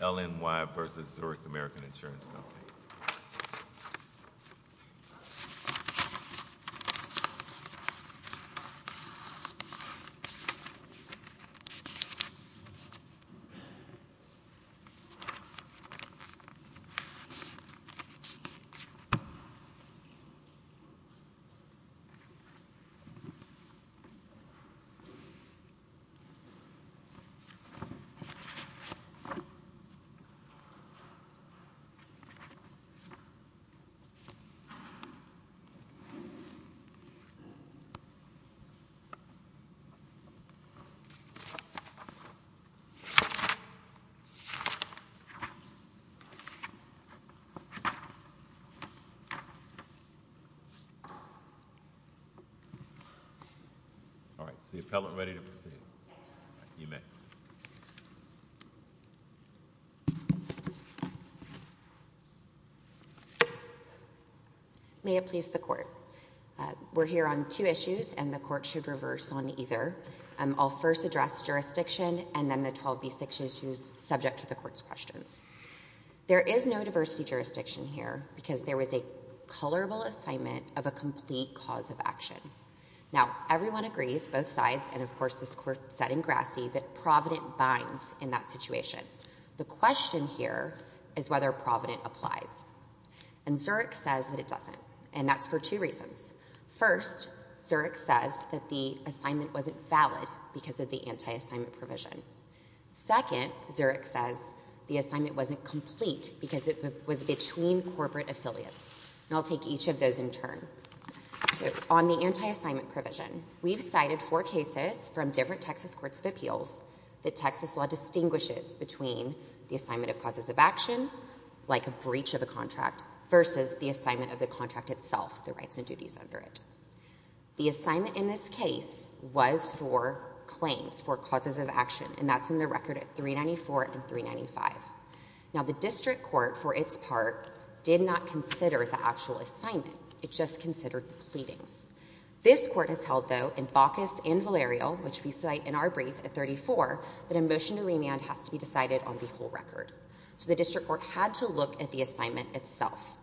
LNY v. Zurich American Insurance Company May it please the Court. We're here on two issues, and the Court should reverse on either. I'll first address jurisdiction and then the 12b.6 issues subject to the Court's questions. There is no diversity jurisdiction here because there was a colorable assignment of a complete cause of action. Now, everyone agrees, both sides, and of course this Court said in Grassy that Provident binds in that situation. The question here is whether Provident applies, and Zurich says that it doesn't, and that's for two reasons. First, Zurich says that the assignment wasn't valid because of the anti-assignment provision. Second, Zurich says the assignment wasn't complete because it was between corporate affiliates, and I'll take each of those in turn. On the anti-assignment provision, we've cited four cases from different Texas Courts of Appeals that Texas law distinguishes between the assignment of causes of action, like a breach of a contract, versus the assignment of the contract itself, the rights and duties under it. The assignment in this case was for claims, for causes of action, and that's in the record at 394 and 395. Now, the District Court, for its part, did not consider the actual assignment. It just considered the pleadings. This Court has held, though, in Baucus and Briefe at 34, that a motion to remand has to be decided on the whole record. So the District Court had to look at the assignment itself.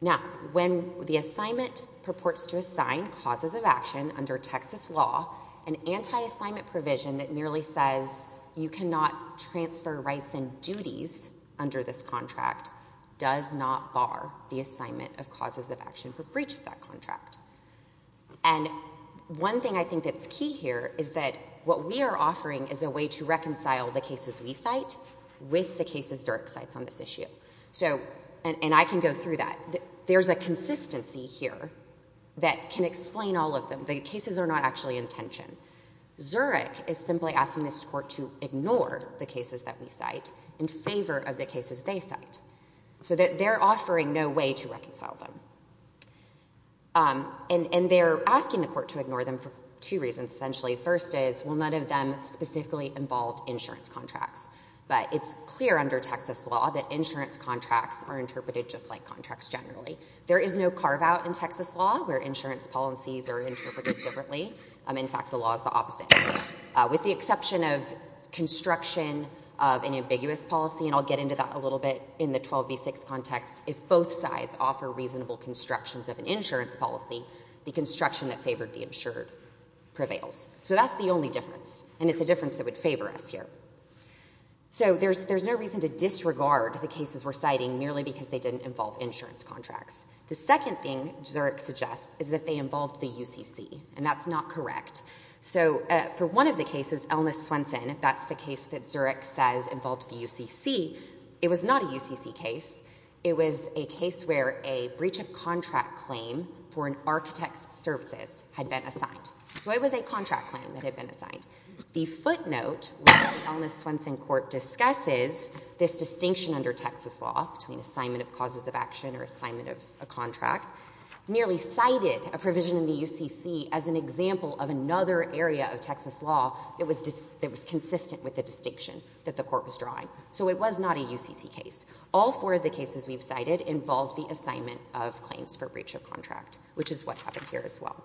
Now, when the assignment purports to assign causes of action under Texas law, an anti-assignment provision that merely says you cannot transfer rights and duties under this contract does not bar the assignment of causes of action for breach of that contract. And one thing I think that's key here is that what we are offering is a way to reconcile the cases we cite with the cases Zurich cites on this issue. So, and I can go through that. There's a consistency here that can explain all of them. The cases are not actually in tension. Zurich is simply asking this Court to ignore the cases that we cite in favor of the cases they cite, so that they're offering no way to negotiate. And they're asking the Court to ignore them for two reasons, essentially. First is, well, none of them specifically involved insurance contracts. But it's clear under Texas law that insurance contracts are interpreted just like contracts generally. There is no carve-out in Texas law where insurance policies are interpreted differently. In fact, the law is the opposite. With the exception of construction of an ambiguous policy, and I'll get into that a little bit in the 12b-6 context, if both sides offer reasonable constructions of an insurance policy, the construction that favored the insured prevails. So that's the only difference. And it's a difference that would favor us here. So there's no reason to disregard the cases we're citing merely because they didn't involve insurance contracts. The second thing Zurich suggests is that they involved the UCC. And that's not correct. So for one of the cases, Elmiss-Swenson, that's the case that Zurich says involved the UCC, it was not a UCC case. It was a case where a breach of contract claim for an architect's services had been assigned. So it was a contract claim that had been assigned. The footnote where the Elmiss-Swenson court discusses this distinction under Texas law between assignment of causes of action or assignment of a contract, merely cited a provision in the UCC as an example of another area of Texas law that was consistent with the distinction that the court was drawing. So it was not a UCC case. All four of the cases we've cited involved the assignment of claims for breach of contract, which is what happened here as well.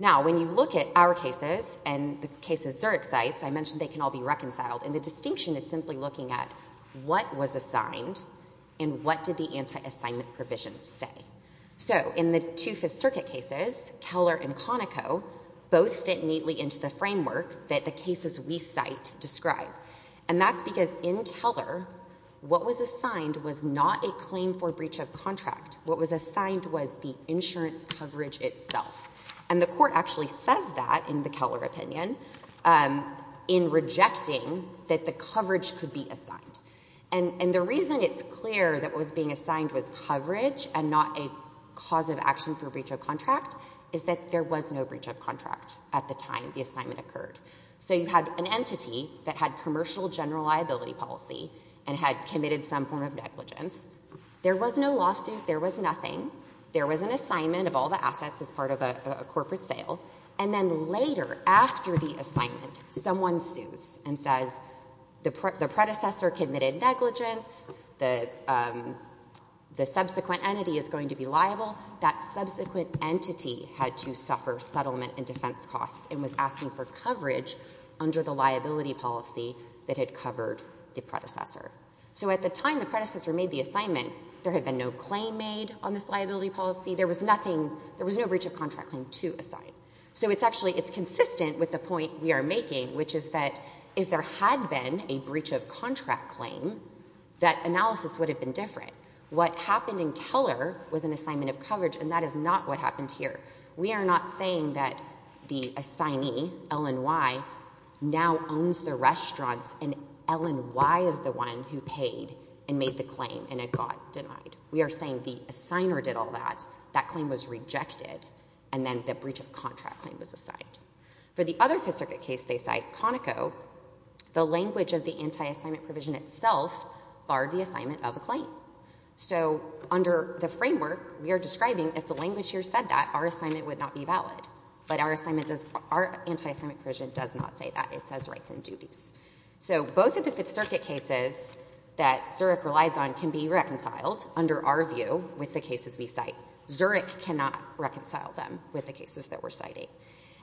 Now, when you look at our cases and the cases Zurich cites, I mentioned they can all be reconciled. And the distinction is simply looking at what was assigned and what did the anti-assignment provision say. So in the Two-Fifth Circuit cases, Keller and Conoco both fit neatly into the distinction that Zurich cite describe. And that's because in Keller, what was assigned was not a claim for breach of contract. What was assigned was the insurance coverage itself. And the court actually says that in the Keller opinion in rejecting that the coverage could be assigned. And the reason it's clear that what was being assigned was coverage and not a cause of action for breach of contract. So in the two-fifth case, the entity that had commercial general liability policy and had committed some form of negligence, there was no lawsuit. There was nothing. There was an assignment of all the assets as part of a corporate sale. And then later, after the assignment, someone sues and says the predecessor committed negligence. The subsequent entity is going to be liable. That subsequent entity had to suffer settlement and defense costs and was asking for coverage under the liability policy that had covered the predecessor. So at the time the predecessor made the assignment, there had been no claim made on this liability policy. There was nothing, there was no breach of contract claim to assign. So it's actually, it's consistent with the point we are making, which is that if there had been a breach of contract claim, that analysis would have been different. What happened in Keller was an assignment of coverage and that is not what happened here. We are not saying that the assignee, L&Y, now owns the restaurants and L&Y is the one who paid and made the claim and it got denied. We are saying the assigner did all that. That claim was rejected and then the breach of contract claim was assigned. For the other Fifth Circuit case they cite, Conoco, the language of the anti-assignment provision itself barred the assignment of a claim. So under the framework we are describing, if the language here said that, our assignment would not be valid. But our anti-assignment provision does not say that. It says rights and duties. So both of the Fifth Circuit cases that Zurich relies on can be reconciled under our view with the cases we cite. Zurich cannot reconcile them with the cases that we are citing.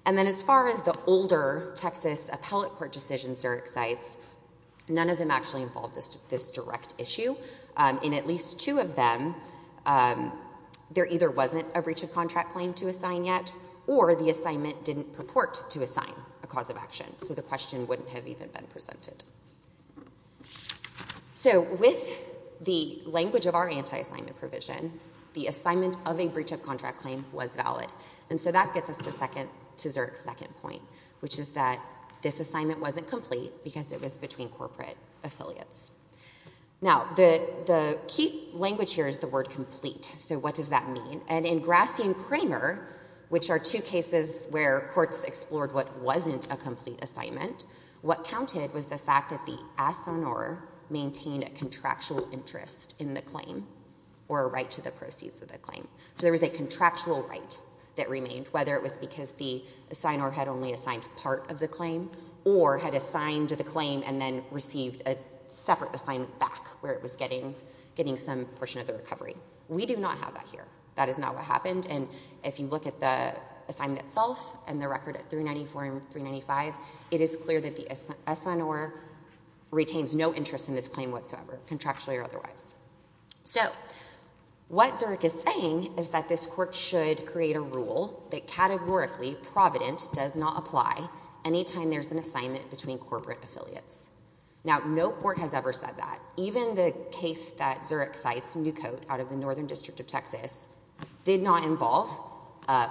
And then as far as the older Texas appellate court decisions Zurich cites, none of them actually involved this direct issue. In at least two of them, there either wasn't a breach of contract claim to assign yet or the assignment didn't purport to assign a cause of action. So the question wouldn't have even been presented. So with the anti-assignment provision, it would have been a breach of contract claim to assign a cause of action. And so that gets us to Zurich's second point, which is that this assignment wasn't complete because it was between corporate affiliates. Now the key language here is the word complete. So what does that mean? And in Grassi and Kramer, which are two cases where courts explored what wasn't a complete assignment, what counted was the fact that the assignor maintained a contractual interest in the claim or a right to the proceeds of the claim. So there was a contractual right that remained, whether it was because the assignor had only assigned part of the claim or had assigned to the claim and then received a separate assignment back where it was getting some portion of the recovery. We do not have that here. That is not what happened. And if you look at the assignment itself and the record at 394 and 395, it is clear that the assignor retains no interest in this claim whatsoever, contractually or otherwise. So what Zurich is saying is that this court should create a rule that categorically Provident does not apply anytime there's an assignment between corporate affiliates. Now no court has ever said that. Even the case that Zurich did, it did not involve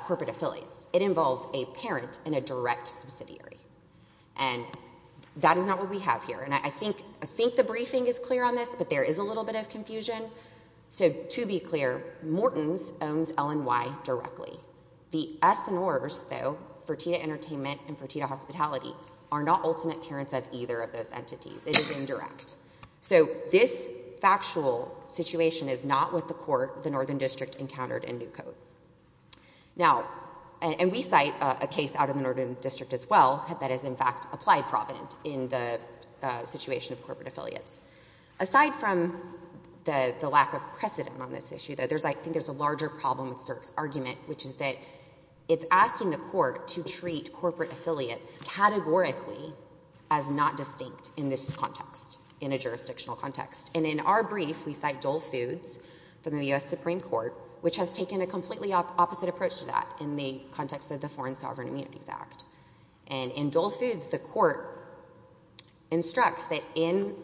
corporate affiliates. It involved a parent and a direct subsidiary. And that is not what we have here. And I think the briefing is clear on this, but there is a little bit of confusion. So to be clear, Morton's owns LNY directly. The assignors, though, Fertitta Entertainment and Fertitta Hospitality are not ultimate parents of either of those entities. It is indirect. So this factual situation is not what the court, the Northern District, encountered in New Code. Now, and we cite a case out of the Northern District as well that is in fact applied Provident in the situation of corporate affiliates. Aside from the lack of precedent on this issue, though, I think there's a larger problem with Zurich's argument, which is that it's asking the court to treat corporate affiliates categorically as not distinct in this context, in a jurisdictional context. And in our brief, we cite Dole Foods from the U.S. Supreme Court, which has taken a completely opposite approach to that in the context of the Foreign Sovereign Immunities Act. And in Dole Foods, the court instructs that in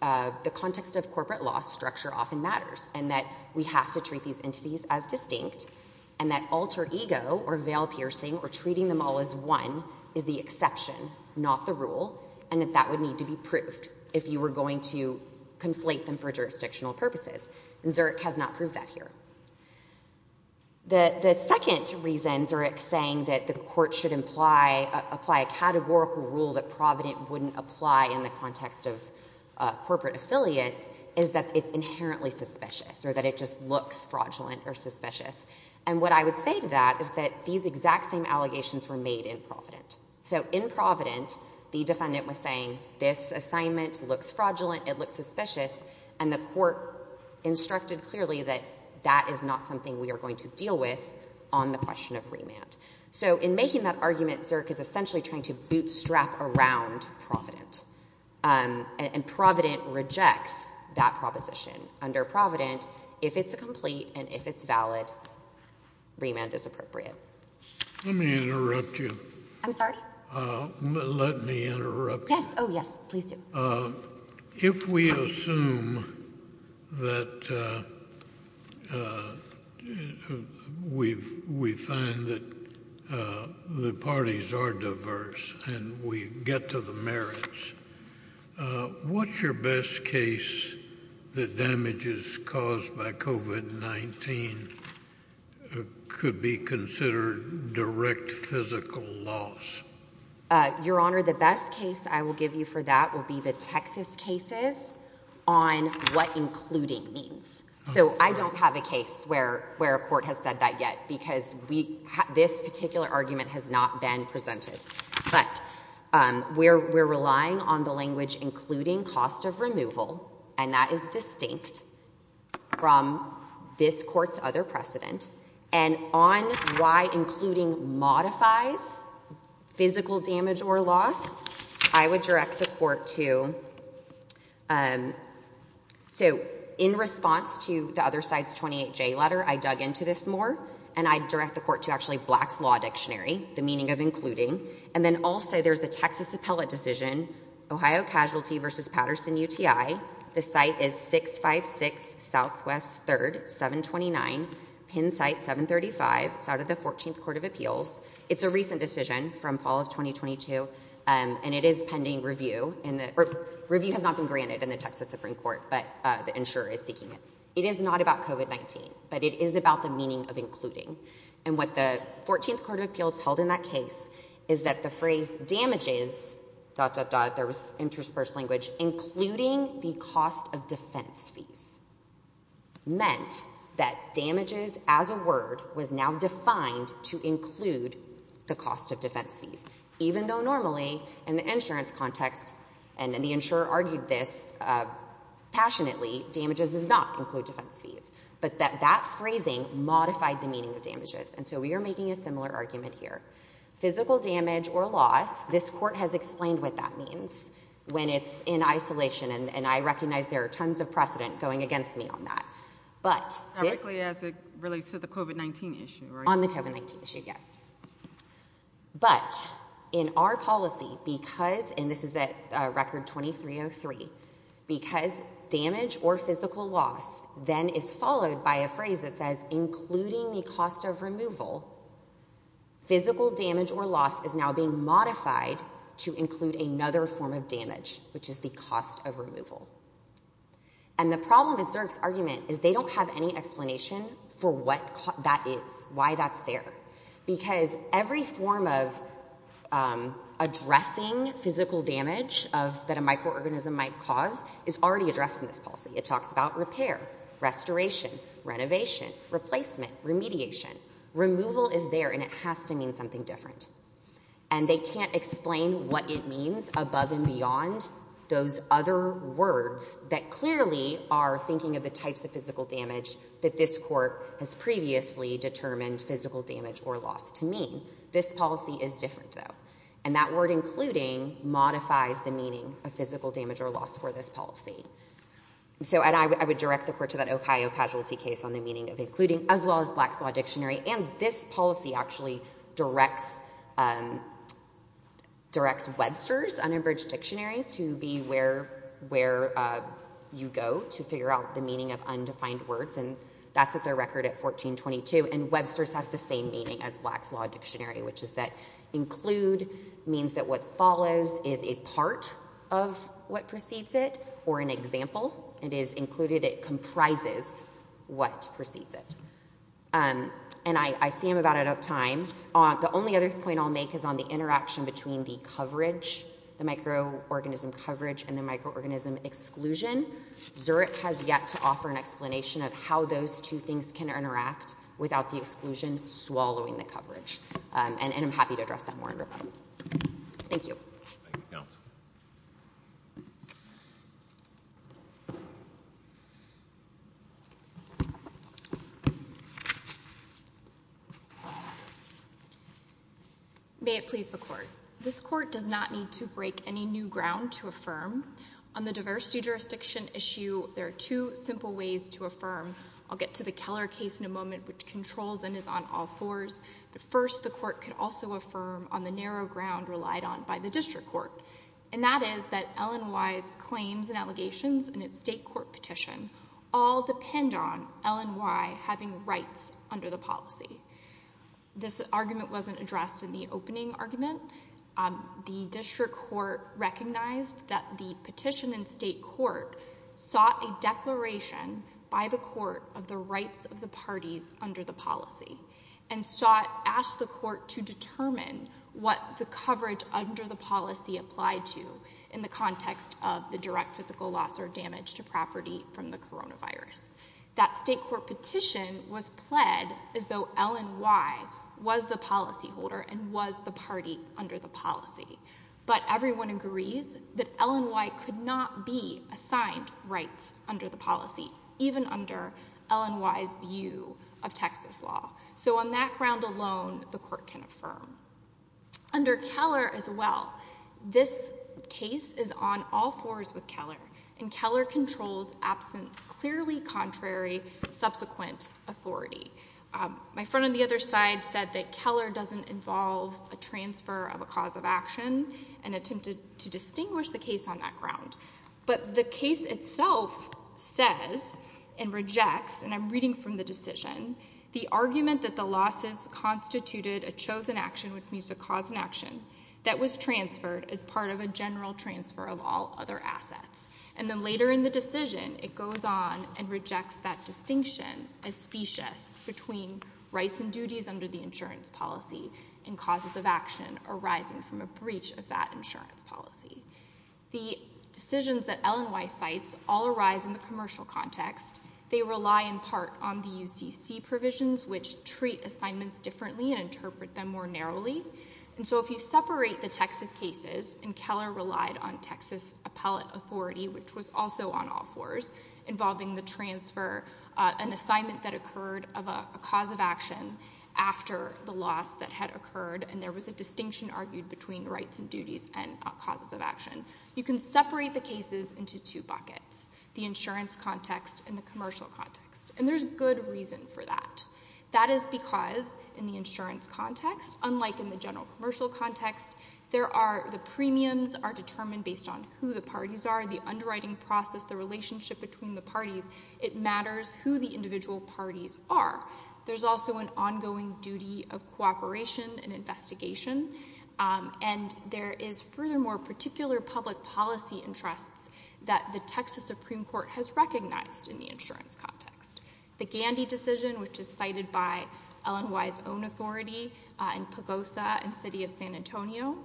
the context of corporate law, structure often matters, and that we have to treat these entities as distinct, and that alter ego or veil-piercing or treating them all as one is the exception, not the rule, and that that would need to be proved if you were going to conflate them for jurisdictional purposes. And Zurich has not proved that here. The second reason Zurich's saying that the court should apply a categorical rule that Provident wouldn't apply in the context of corporate affiliates is that it's inherently suspicious, or that it just looks fraudulent or suspicious. And what I would say to that is that these exact same allegations were made in Provident. So in Provident, the defendant was saying, this assignment looks fraudulent, it looks suspicious, and the court instructed clearly that that is not something we are going to deal with on the question of remand. So in making that argument, Zurich is essentially trying to bootstrap around Provident. And Provident rejects that proposition. Under Provident, if it's a complete and if it's valid, remand is appropriate. Let me interrupt you. I'm sorry? Let me interrupt you. Yes, oh yes, please do. If we assume that we find that the parties are diverse and we get to the merits, what's your best case that damages caused by COVID-19 could be considered direct physical loss? Your Honor, the best case I will give you for that will be the Texas cases on what we're relying on the language, including cost of removal. And that is distinct from this court's other precedent. And on why including modifies physical damage or loss, I would direct the court to, so in response to the other side's 28J letter, I dug into this more, and I direct the court to actually Black's Law Dictionary, the meaning of including. And then also there's the Texas appellate decision, Ohio Casualty v. Patterson UTI. The site is 656 Southwest 3rd, 729, Penn site 735. It's out of the 14th Court of Appeals. It's a recent decision from fall of 2022, and it is pending review. Review has not been granted in the Texas Supreme Court, but the insurer is seeking it. It is not about COVID-19, but it is about the meaning of including. And what the 14th Court of Appeals held in that case is that the phrase damages, dot, dot, dot, there was interspersed language, including the cost of defense fees, meant that damages as a word was now defined to include the cost of defense fees, even though normally in the insurance context, and the insurer argued this passionately, damages does not include defense fees, but that that phrasing modified the meaning of damages. And so we are making a similar argument here. Physical damage or loss, this court has explained what that means when it's in isolation, and I recognize there are tons of precedent going against me on that. But, this, on the COVID-19 issue, yes. But, in our policy, because, and this is at record 2303, because damage or physical loss then is followed by a phrase that says including the cost of removal, physical damage or loss is now being modified to include another form of damage, which is the cost of removal. And the problem with Zerk's argument is they don't have any explanation for what that is, why that's there. Because every form of addressing physical damage that a microorganism might cause is already addressed in this policy. It talks about repair, restoration, renovation, replacement, remediation. Removal is there and it has to mean something different. And they can't explain what it means above and beyond those other words that clearly are thinking of the types of physical damage that this court has previously determined physical damage or loss to mean. This policy is different, though. And that word including modifies the meaning of physical damage or loss for this policy. So, and I would direct the court to that Ohio casualty case on the meaning of including, as well as Black's Law Dictionary. And this policy actually directs Webster's unabridged dictionary to be where you go to figure out the meaning of undefined words. And that's at their record at 1422. And Webster's has the same meaning as Black's Law Dictionary, which is that include means that what follows is a part of what precedes it or an example. It is included, it comprises what precedes it. And I see I'm about out of time. The only other point I'll make is on the interaction between the coverage, the microorganism coverage and the microorganism exclusion. Zurich has yet to offer an explanation of how those two things can interact without the exclusion swallowing the coverage. And I'm happy to address that more in rebuttal. Thank you. May it please the court. This court does not need to break any new ground to affirm on the diversity jurisdiction issue. There are two simple ways to affirm. I'll get to the Keller case in a moment, which controls and is on all fours. But first, the court could also affirm on the narrow ground relied on by the district court. And that is that LNY's claims and allegations in its state court petition all depend on LNY having rights under the policy. This argument wasn't addressed in the opening argument. The district court recognized that the petition in state court sought a declaration by the court of the rights of the parties under the policy and sought, asked the court to determine what the coverage under the policy applied to in the context of the direct physical loss or damage to property from the coronavirus. That state court petition was pled as though LNY was the policyholder and was the party under the policy. But everyone agrees that LNY could not be assigned rights under the policy, even under LNY's view of Texas law. So on that ground alone, the court can affirm. Under Keller as well, this case is on all fours with Keller. And Keller controls absent clearly contrary subsequent authority. My friend on the other side said that Keller doesn't involve a transfer of a cause of action and attempted to distinguish the case on that ground. But the case itself says and rejects, and I'm reading from the decision, the argument that the losses constituted a chosen action, which means a cause and action, that was transferred as part of a general transfer of all other assets. And then later in the decision, it goes on and rejects that distinction as specious between rights and duties under the insurance policy and causes of action arising from a breach of that insurance policy. The decisions that LNY cites all arise in the commercial context. They rely in part on the UCC provisions, which treat assignments differently and interpret them more narrowly. And so if you separate the Texas cases, and Keller relied on Texas appellate authority, which was also on all fours, involving the transfer, an assignment that occurred of a cause of action after the loss that had occurred, and there was a distinction argued between rights and duties and causes of action. You can separate the cases into two buckets, the insurance context and the commercial context. And there's good reason for that. That is because in the insurance context, unlike in the general commercial context, the premiums are determined based on who the parties are, the underwriting process, the relationship between the parties, it matters who the individual parties are. There's also an ongoing duty of cooperation and investigation, and there is furthermore particular public policy interests that the Texas Supreme Court has recognized in the insurance context. The Gandy decision, which is cited by LNY's own authority in Pagosa and City of San Antonio,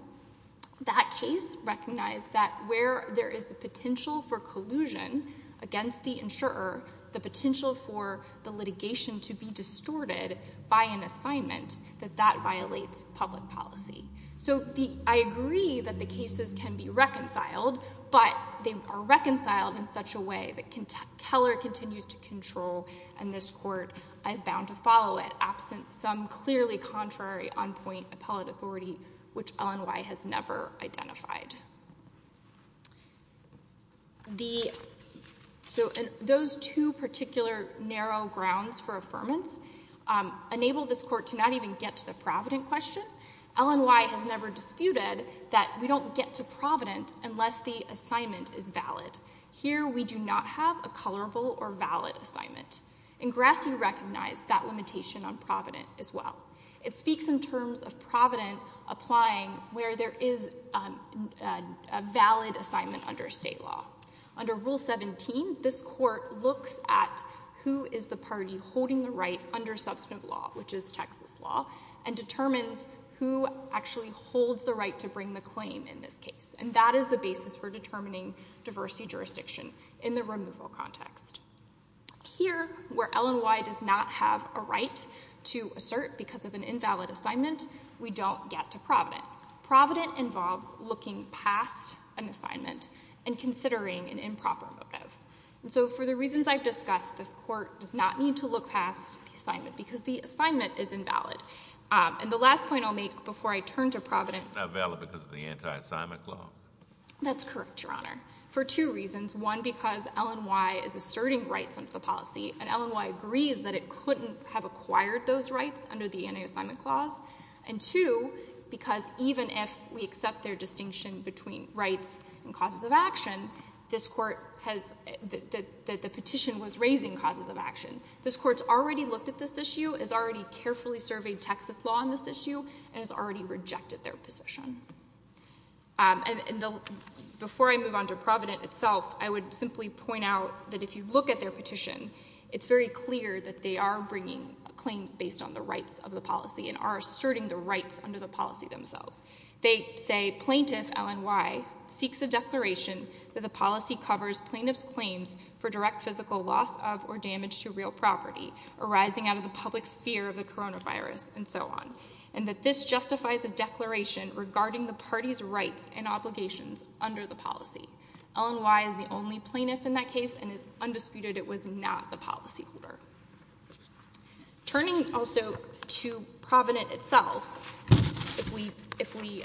that case recognized that where there is the potential for collusion against the insurer, the potential for the litigation to be distorted by an assignment, that that violates public policy. So I agree that the cases can be reconciled, but they are reconciled in such a way that Keller continues to control and this court is bound to follow it, absent some clearly contrary on-point appellate authority, which LNY has never identified. So those two particular narrow grounds for affirmance enable this court to not even get to the Provident question. LNY has never disputed that we don't get to Provident unless the assignment is valid. Here we do not have a colorable or valid assignment. And Grassley recognized that limitation on Provident as well. It speaks in terms of Provident applying where there is a valid assignment under state law. Under Rule 17, this court looks at who is the party holding the right under substantive law, which is Texas law, and determines who actually holds the right to bring the claim in this case. And that is the basis for determining diversity jurisdiction in the removal context. Here, where LNY does not have a right to assert because of an invalid assignment, we don't get to Provident. Provident involves looking past an assignment and considering an improper motive. And so for the reasons I've discussed, this court does not need to look past the assignment because the assignment is invalid. And the last point I'll make before I turn to Provident It's not valid because of the anti-assignment clause. That's correct, Your Honor, for two reasons. One, because LNY is asserting rights under the policy and LNY agrees that it couldn't have acquired those rights under the anti-assignment clause. And two, because even if we accept their distinction between rights and causes of action, this court has, the petition was raising causes of action. This court's already looked at this issue, has already carefully surveyed Texas law on this issue, and has already rejected their position. And before I move on to Provident itself, I would like to say that LNY is not asserting claims based on the rights of the policy and are asserting the rights under the policy themselves. They say, Plaintiff LNY seeks a declaration that the policy covers plaintiff's claims for direct physical loss of or damage to real property arising out of the public's fear of the coronavirus and so on, and that this justifies a declaration regarding the party's rights and obligations under the policy. LNY is the only plaintiff in that case and is undisputed it was not the policyholder. Turning also to Provident itself, if we,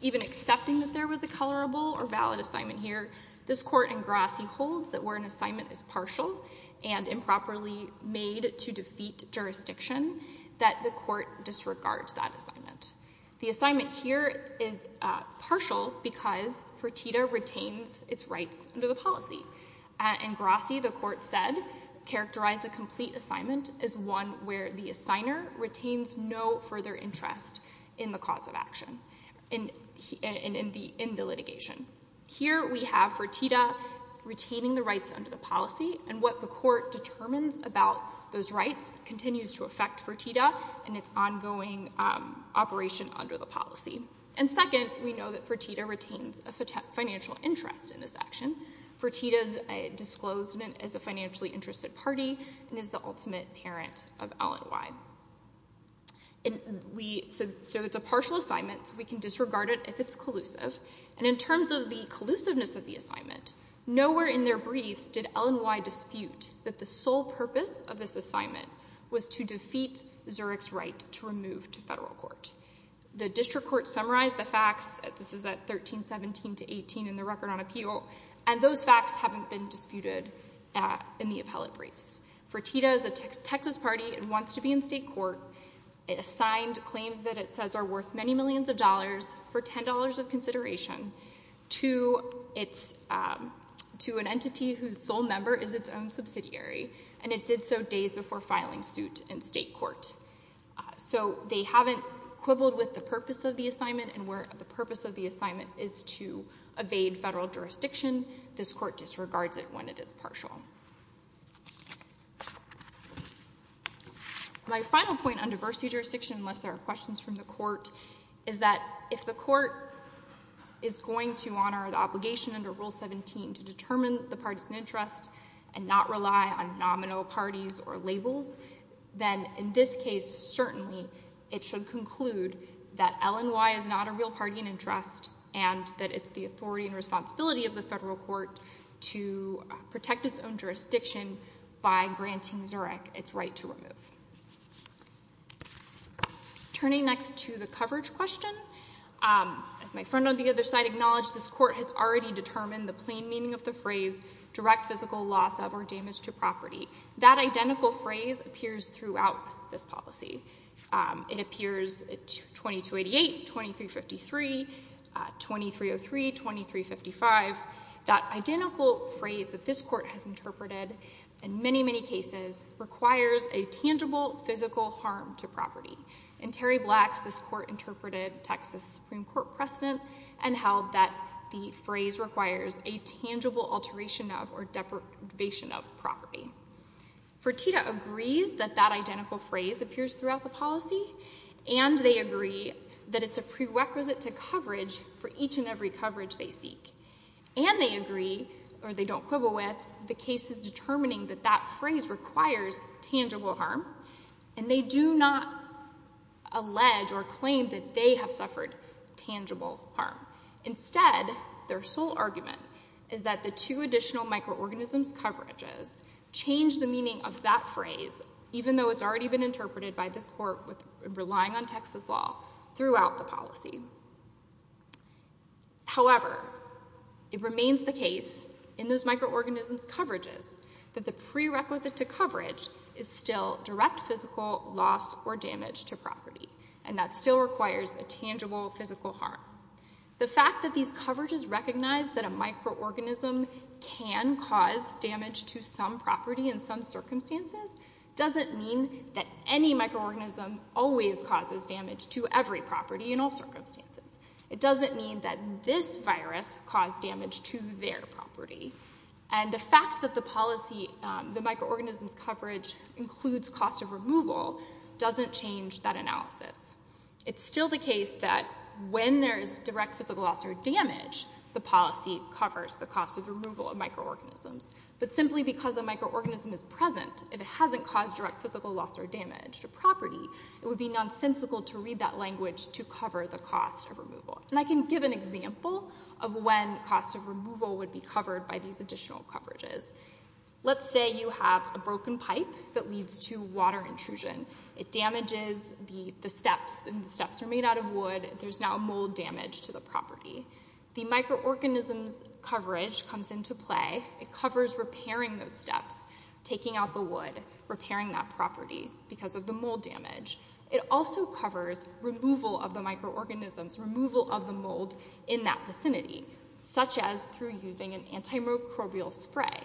even accepting that there was a colorable or valid assignment here, this court in Grassy holds that where an assignment is partial and improperly made to defeat jurisdiction, that the court disregards that assignment, and that Fertitta retains its rights under the policy. In Grassy, the court said, characterize a complete assignment as one where the assigner retains no further interest in the cause of action, in the litigation. Here we have Fertitta retaining the rights under the policy, and what the court determines about those rights continues to affect Fertitta and its ongoing operation under the policy. And second, we know that Fertitta retains a financial interest in this action. Fertitta is disclosed as a financially interested party and is the ultimate parent of LNY. So it's a partial assignment, we can disregard it if it's collusive, and in terms of the collusiveness of the assignment, nowhere in their briefs did LNY dispute that the Fertitta is a Texas party and wants to be in state court. It assigned claims that it says are worth many millions of dollars for $10 of consideration to an entity whose sole member is its own subsidiary, and it did so days before filing suit in state court. We haven't quibbled with the purpose of the assignment, and where the purpose of the assignment is to evade federal jurisdiction, this court disregards it when it is partial. My final point on diversity jurisdiction, unless there are questions from the court, is that if the court is going to honor the obligation under Rule 17 to determine the partisan interest and not rely on its own jurisdiction, it should conclude that LNY is not a real partisan interest and that it's the authority and responsibility of the federal court to protect its own jurisdiction by granting Zurich its right to remove. Turning next to the coverage question, as my friend on the other side acknowledged, this court has already determined the plain meaning of the phrase direct physical loss of or damage to property. That identical phrase appears throughout this policy. It appears 2288, 2353, 2303, 2355. That identical phrase that this court has interpreted in many, many cases requires a tangible physical harm to property. In Terry Black's, this court interpreted Texas Supreme Court precedent and held that the case is determining that that phrase requires tangible harm. And they agree that it's a prerequisite to coverage for each and every coverage they seek. And they agree, or they don't quibble with, the case is determining that that phrase requires tangible harm, and they do not allege or claim that they have suffered tangible harm. Instead, their sole argument is that the two additional microorganisms coverages change the meaning of that phrase, even though it's already been interpreted by this court relying on Texas law throughout the policy. However, it remains the case in those microorganisms coverages that the prerequisite to coverage is still direct physical loss or damage. The fact that these coverages recognize that a microorganism can cause damage to some property in some circumstances doesn't mean that any microorganism always causes damage to every property in all circumstances. It doesn't mean that this virus caused damage to their property. And the fact that the policy, the microorganisms coverage includes cost of removal doesn't change that analysis. It's still the case that when there is direct physical loss or damage, the policy covers the cost of removal of microorganisms. But simply because a microorganism is present, if it hasn't caused direct physical loss or damage to property, it would be nonsensical to read that language to cover the cost of removal. And I can give an example of when cost of removal would be covered by these additional coverages. Let's say you have a broken pipe that leads to water intrusion. It damages the steps and the steps are made out of wood. There's now mold damage to the property. The microorganisms coverage comes into play. It covers repairing those steps, taking out the wood, repairing that property because of the mold damage. It also covers removal of the microorganisms, removal of the mold in that vicinity, such as through using an antimicrobial spray.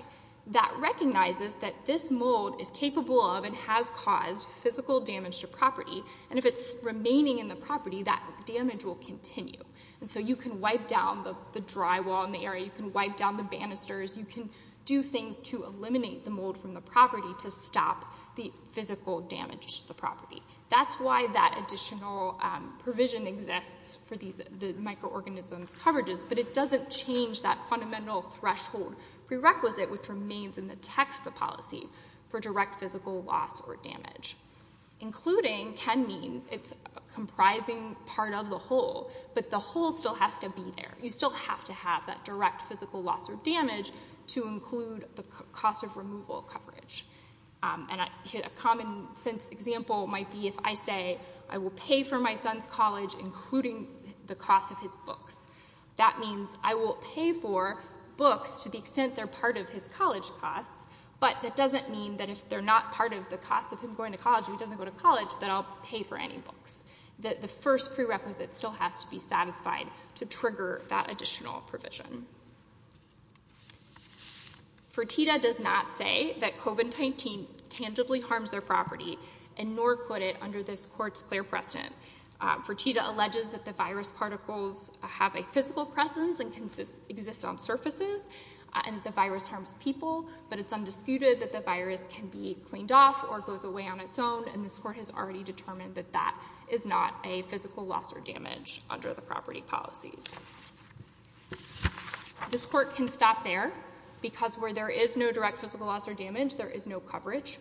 That recognizes that this mold is capable of and has caused physical damage to property. And if it's remaining in the property, that damage will continue. And so you can wipe down the drywall in the area. You can wipe down the banisters. You can do things to eliminate the mold from the property to stop the physical damage to the property. That's why that additional provision exists for these microorganisms coverages, but it doesn't change that fundamental threshold prerequisite which remains in the text of the policy for direct physical loss or damage. Including can mean it's a comprising part of the whole, but the whole still has to be there. You still have to have that direct physical loss or damage to include the cost of removal coverage. And a common sense example might be if I say, I will pay for my son's college, including the cost of his books. That means I will pay for books to the extent they're part of his college costs, but that doesn't mean that if they're not part of the cost of him going to college or he doesn't go to college, that I'll pay for any books. The first prerequisite still has to be satisfied to trigger that additional provision. Fertitta does not say that COVID-19 tangibly harms their property, and nor could it under this court's clear precedent. Fertitta alleges that the virus particles have a physical presence and exist on surfaces, and the virus harms people, but it's undisputed that the virus can be cleaned off or goes away on its own, and this court has already determined that that is not a physical loss or damage under the property policies. This court can stop there, because where there is no direct physical loss or damage, there is no coverage.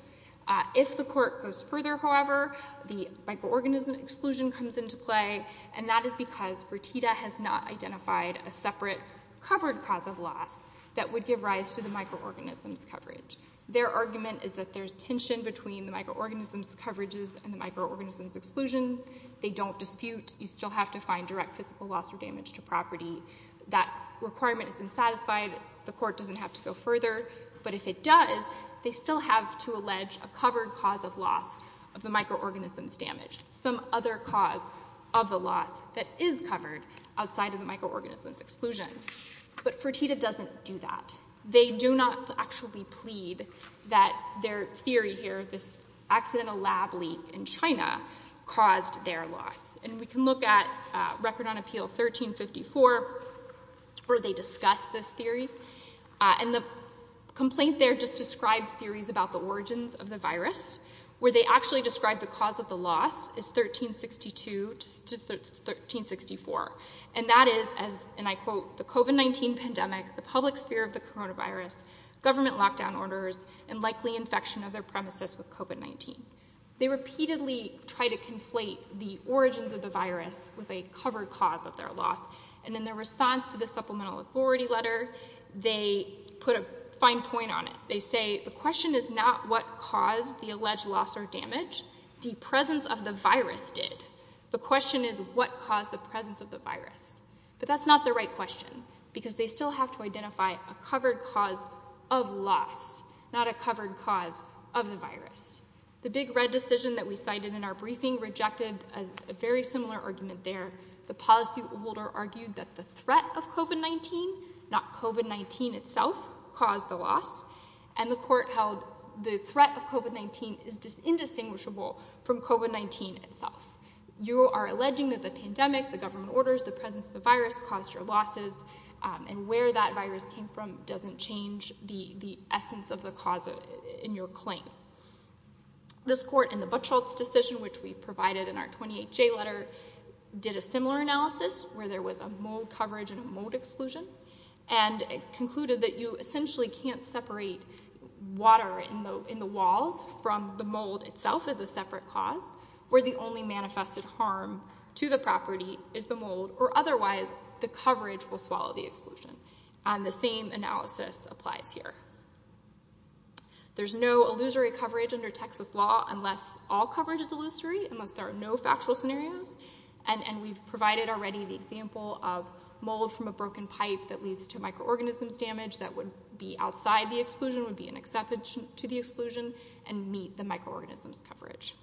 If the court goes further, however, the microorganism exclusion comes into play, and that is because Fertitta has not identified a separate covered cause of loss that would give rise to the microorganisms coverage. Their argument is that there's tension between the microorganisms coverages and the microorganisms exclusion. They don't dispute. You still have to find direct physical loss or damage to property. That requirement is unsatisfied. The court doesn't have to go further, but if it does, they still have to allege a covered cause of loss of the microorganisms damage, some other cause of the loss that is covered outside of the microorganisms exclusion. But Fertitta doesn't do that. They do not actually plead that their theory here, this accidental lab leak in China, caused their loss. And we can look at Record on Appeal 1354 where they discuss this theory, and the complaint there just describes theories about the origins of the virus, where they actually describe the cause of the loss as 1362 to 1364, and that is as, and I quote, the COVID-19 pandemic, the public sphere of the coronavirus, government lockdown orders, and likely infection of their premises with COVID-19. They repeatedly try to conflate the origins of the virus with a covered cause of their loss, and in their response to the Supplemental Authority letter, they put a fine point on it. They say the question is not what caused the alleged loss or damage, the presence of the virus did. The question is what caused the presence of the virus. But that's not the right question, because they still have to identify a covered cause of loss, not a covered cause of the virus. The big red decision that we cited in our briefing rejected a very similar argument there. The policyholder argued that the threat of COVID-19, not COVID-19 itself, caused the loss, and the court held the threat of COVID-19 is indistinguishable from COVID-19 itself. You are alleging that the pandemic, the government orders, the presence of the virus caused your losses, and where that virus came from doesn't change the essence of the cause in your claim. This court in the Buchholz decision, which we provided in our 28J letter, did a similar analysis where there was a mold coverage and a mold exclusion, and concluded that you essentially can't separate water in the walls from the mold itself as a separate cause, where the only manifested harm to the property is the mold, or otherwise the coverage will swallow the exclusion. The same analysis applies here. There's no illusory coverage under Texas law unless all coverage is illusory, unless there are no factual scenarios, and we've provided already the example of mold from a broken pipe that leads to microorganisms damage that would be outside the exclusion, would be an exception to the exclusion, and meet the microorganisms coverage.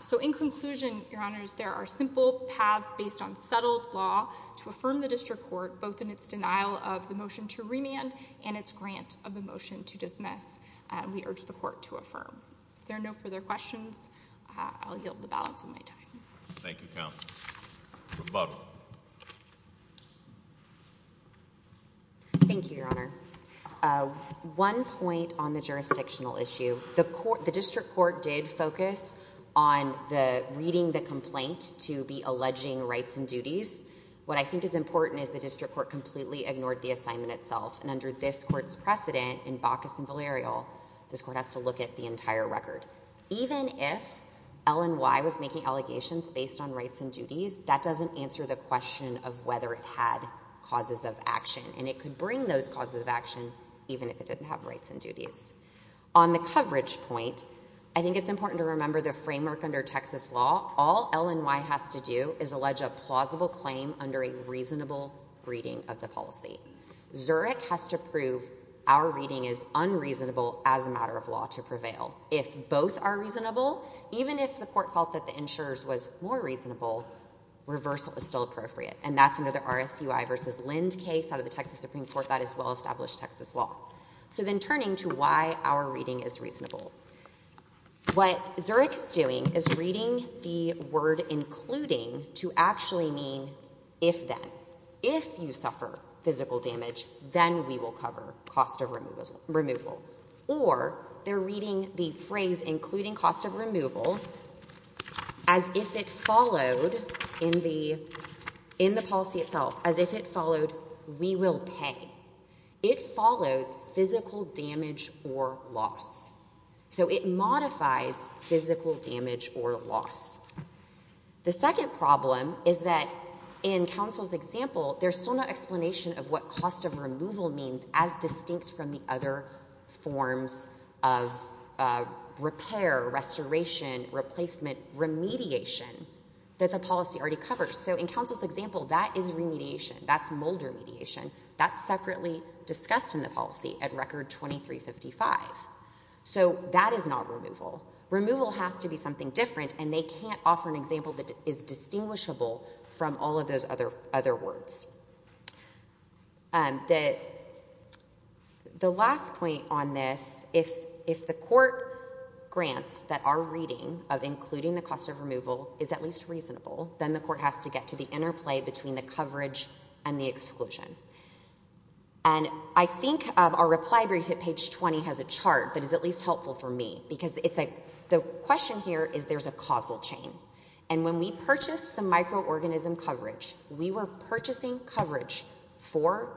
So in conclusion, your honors, there are simple paths based on settled law to affirm the district court, both in its denial of the motion to remand and its grant of the motion to dismiss, and we urge the court to affirm. If there are no further questions, I'll yield the balance of my time. Thank you, counsel. Rebuttal. Thank you, your honor. One point on the jurisdictional issue. The district court did focus on the reading the complaint to be alleging rights and duties. What I think is important is the district court completely ignored the assignment itself, and under this court's precedent in Baucus and Valerio, this court has to look at the entire record. Even if LNY was making allegations based on rights and duties, that doesn't answer the question of whether it had causes of action, and it could bring those causes of action even if it didn't have rights and duties. On the coverage point, I think it's important to remember the framework under Texas law. All LNY has to do is allege a plausible claim under a reasonable reading of the policy. Zurich has to prove our reading is unreasonable as a matter of law to prevail. If both are reasonable, even if the court felt that the insurer's was more reasonable, reversal is still appropriate, and that's under the RSUI v. Lind case out of the Texas Supreme Court that is well-established Texas law. So then turning to why our reading is reasonable, what Zurich is doing is reading the word including to actually mean if then. If you suffer physical damage, then we will cover cost of removal. Or they're reading the phrase including cost of removal as if it followed, in the policy itself, as if it followed we will pay. It follows physical damage or loss. So it modifies physical damage or loss. The second problem is that in counsel's example, there's still no explanation of what cost of removal means as distinct from the other forms of repair, restoration, replacement, remediation that the policy already covers. So in counsel's example, that is remediation. That's mold remediation. That's separately discussed in the policy at Record 2355. So that is not removal. Removal has to be something different, and they can't offer an example that is distinguishable from all of those other words. The last point on this, if the court grants that our reading of including the cost of removal is at least reasonable, then the court has to get to the interplay between the coverage and the exclusion. And I think our reply brief at page 20 has a chart that is at least helpful for me, because the question here is there's a causal chain. And when we purchased the microorganism coverage, we were purchasing coverage for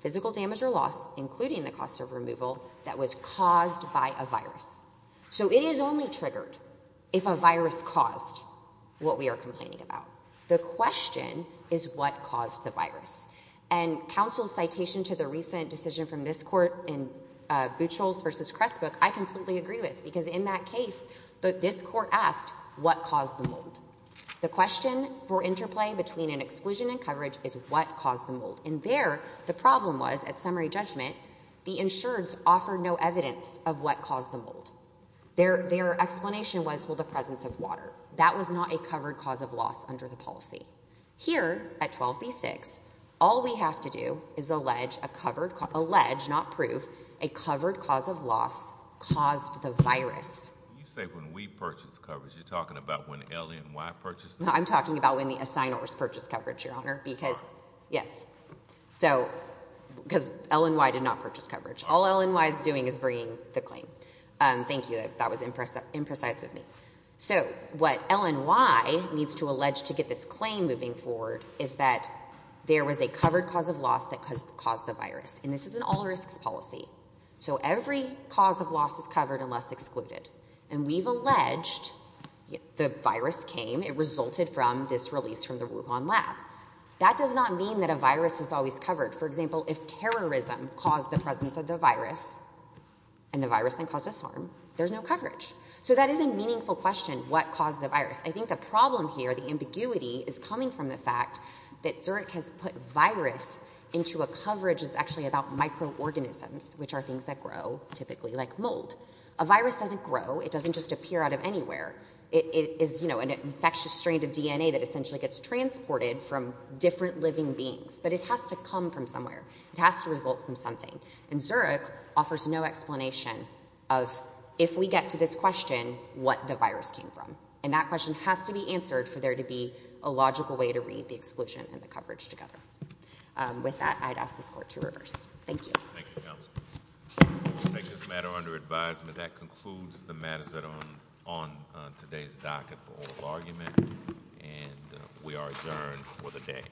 physical damage or loss, including the cost of removal, that was caused by a virus. So it is only triggered if a virus caused what we are complaining about. The question is what caused the virus. And counsel's citation to the recent decision from this court in Buchholz v. Cressbook, I completely agree with, because in that case, this court asked what caused the mold. The question for interplay between an exclusion and coverage is what caused the mold. And there, the problem was, at summary judgment, the insureds offered no evidence of what caused the mold. Their explanation was, well, the presence of water. That was not a covered cause of loss under the policy. Here at 12b-6, all we have to do is allege, not prove, a covered cause of loss caused the virus. You say when we purchased coverage. You're talking about when LNY purchased it? I'm talking about when the assignors purchased coverage, Your Honor. Yes. Because LNY did not purchase coverage. All LNY is doing is bringing the claim. Thank you. That was imprecise of me. So what LNY needs to allege to get this claim moving forward is that there was a covered cause of loss that caused the virus. And this is an all risks policy. So every cause of loss is covered unless excluded. And we've alleged the virus came, it resulted from this release from the Wuhan lab. That does not mean that a virus is always covered. For example, if terrorism caused the presence of the I think the problem here, the ambiguity, is coming from the fact that Zurich has put virus into a coverage that's actually about microorganisms, which are things that grow, typically, like mold. A virus doesn't grow. It doesn't just appear out of anywhere. It is an infectious strain of DNA that essentially gets transported from different living beings. But it has to come from somewhere. It has to result from something. And Zurich offers no explanation of, if we get to this question, what the virus came from. And that question has to be answered for there to be a logical way to read the exclusion and the coverage together. With that, I'd ask this Court to reverse. Thank you. Thank you, Counsel. We'll take this matter under advisement. That concludes the matters that are on today's docket for oral argument. And we are adjourned for the day. Thank you.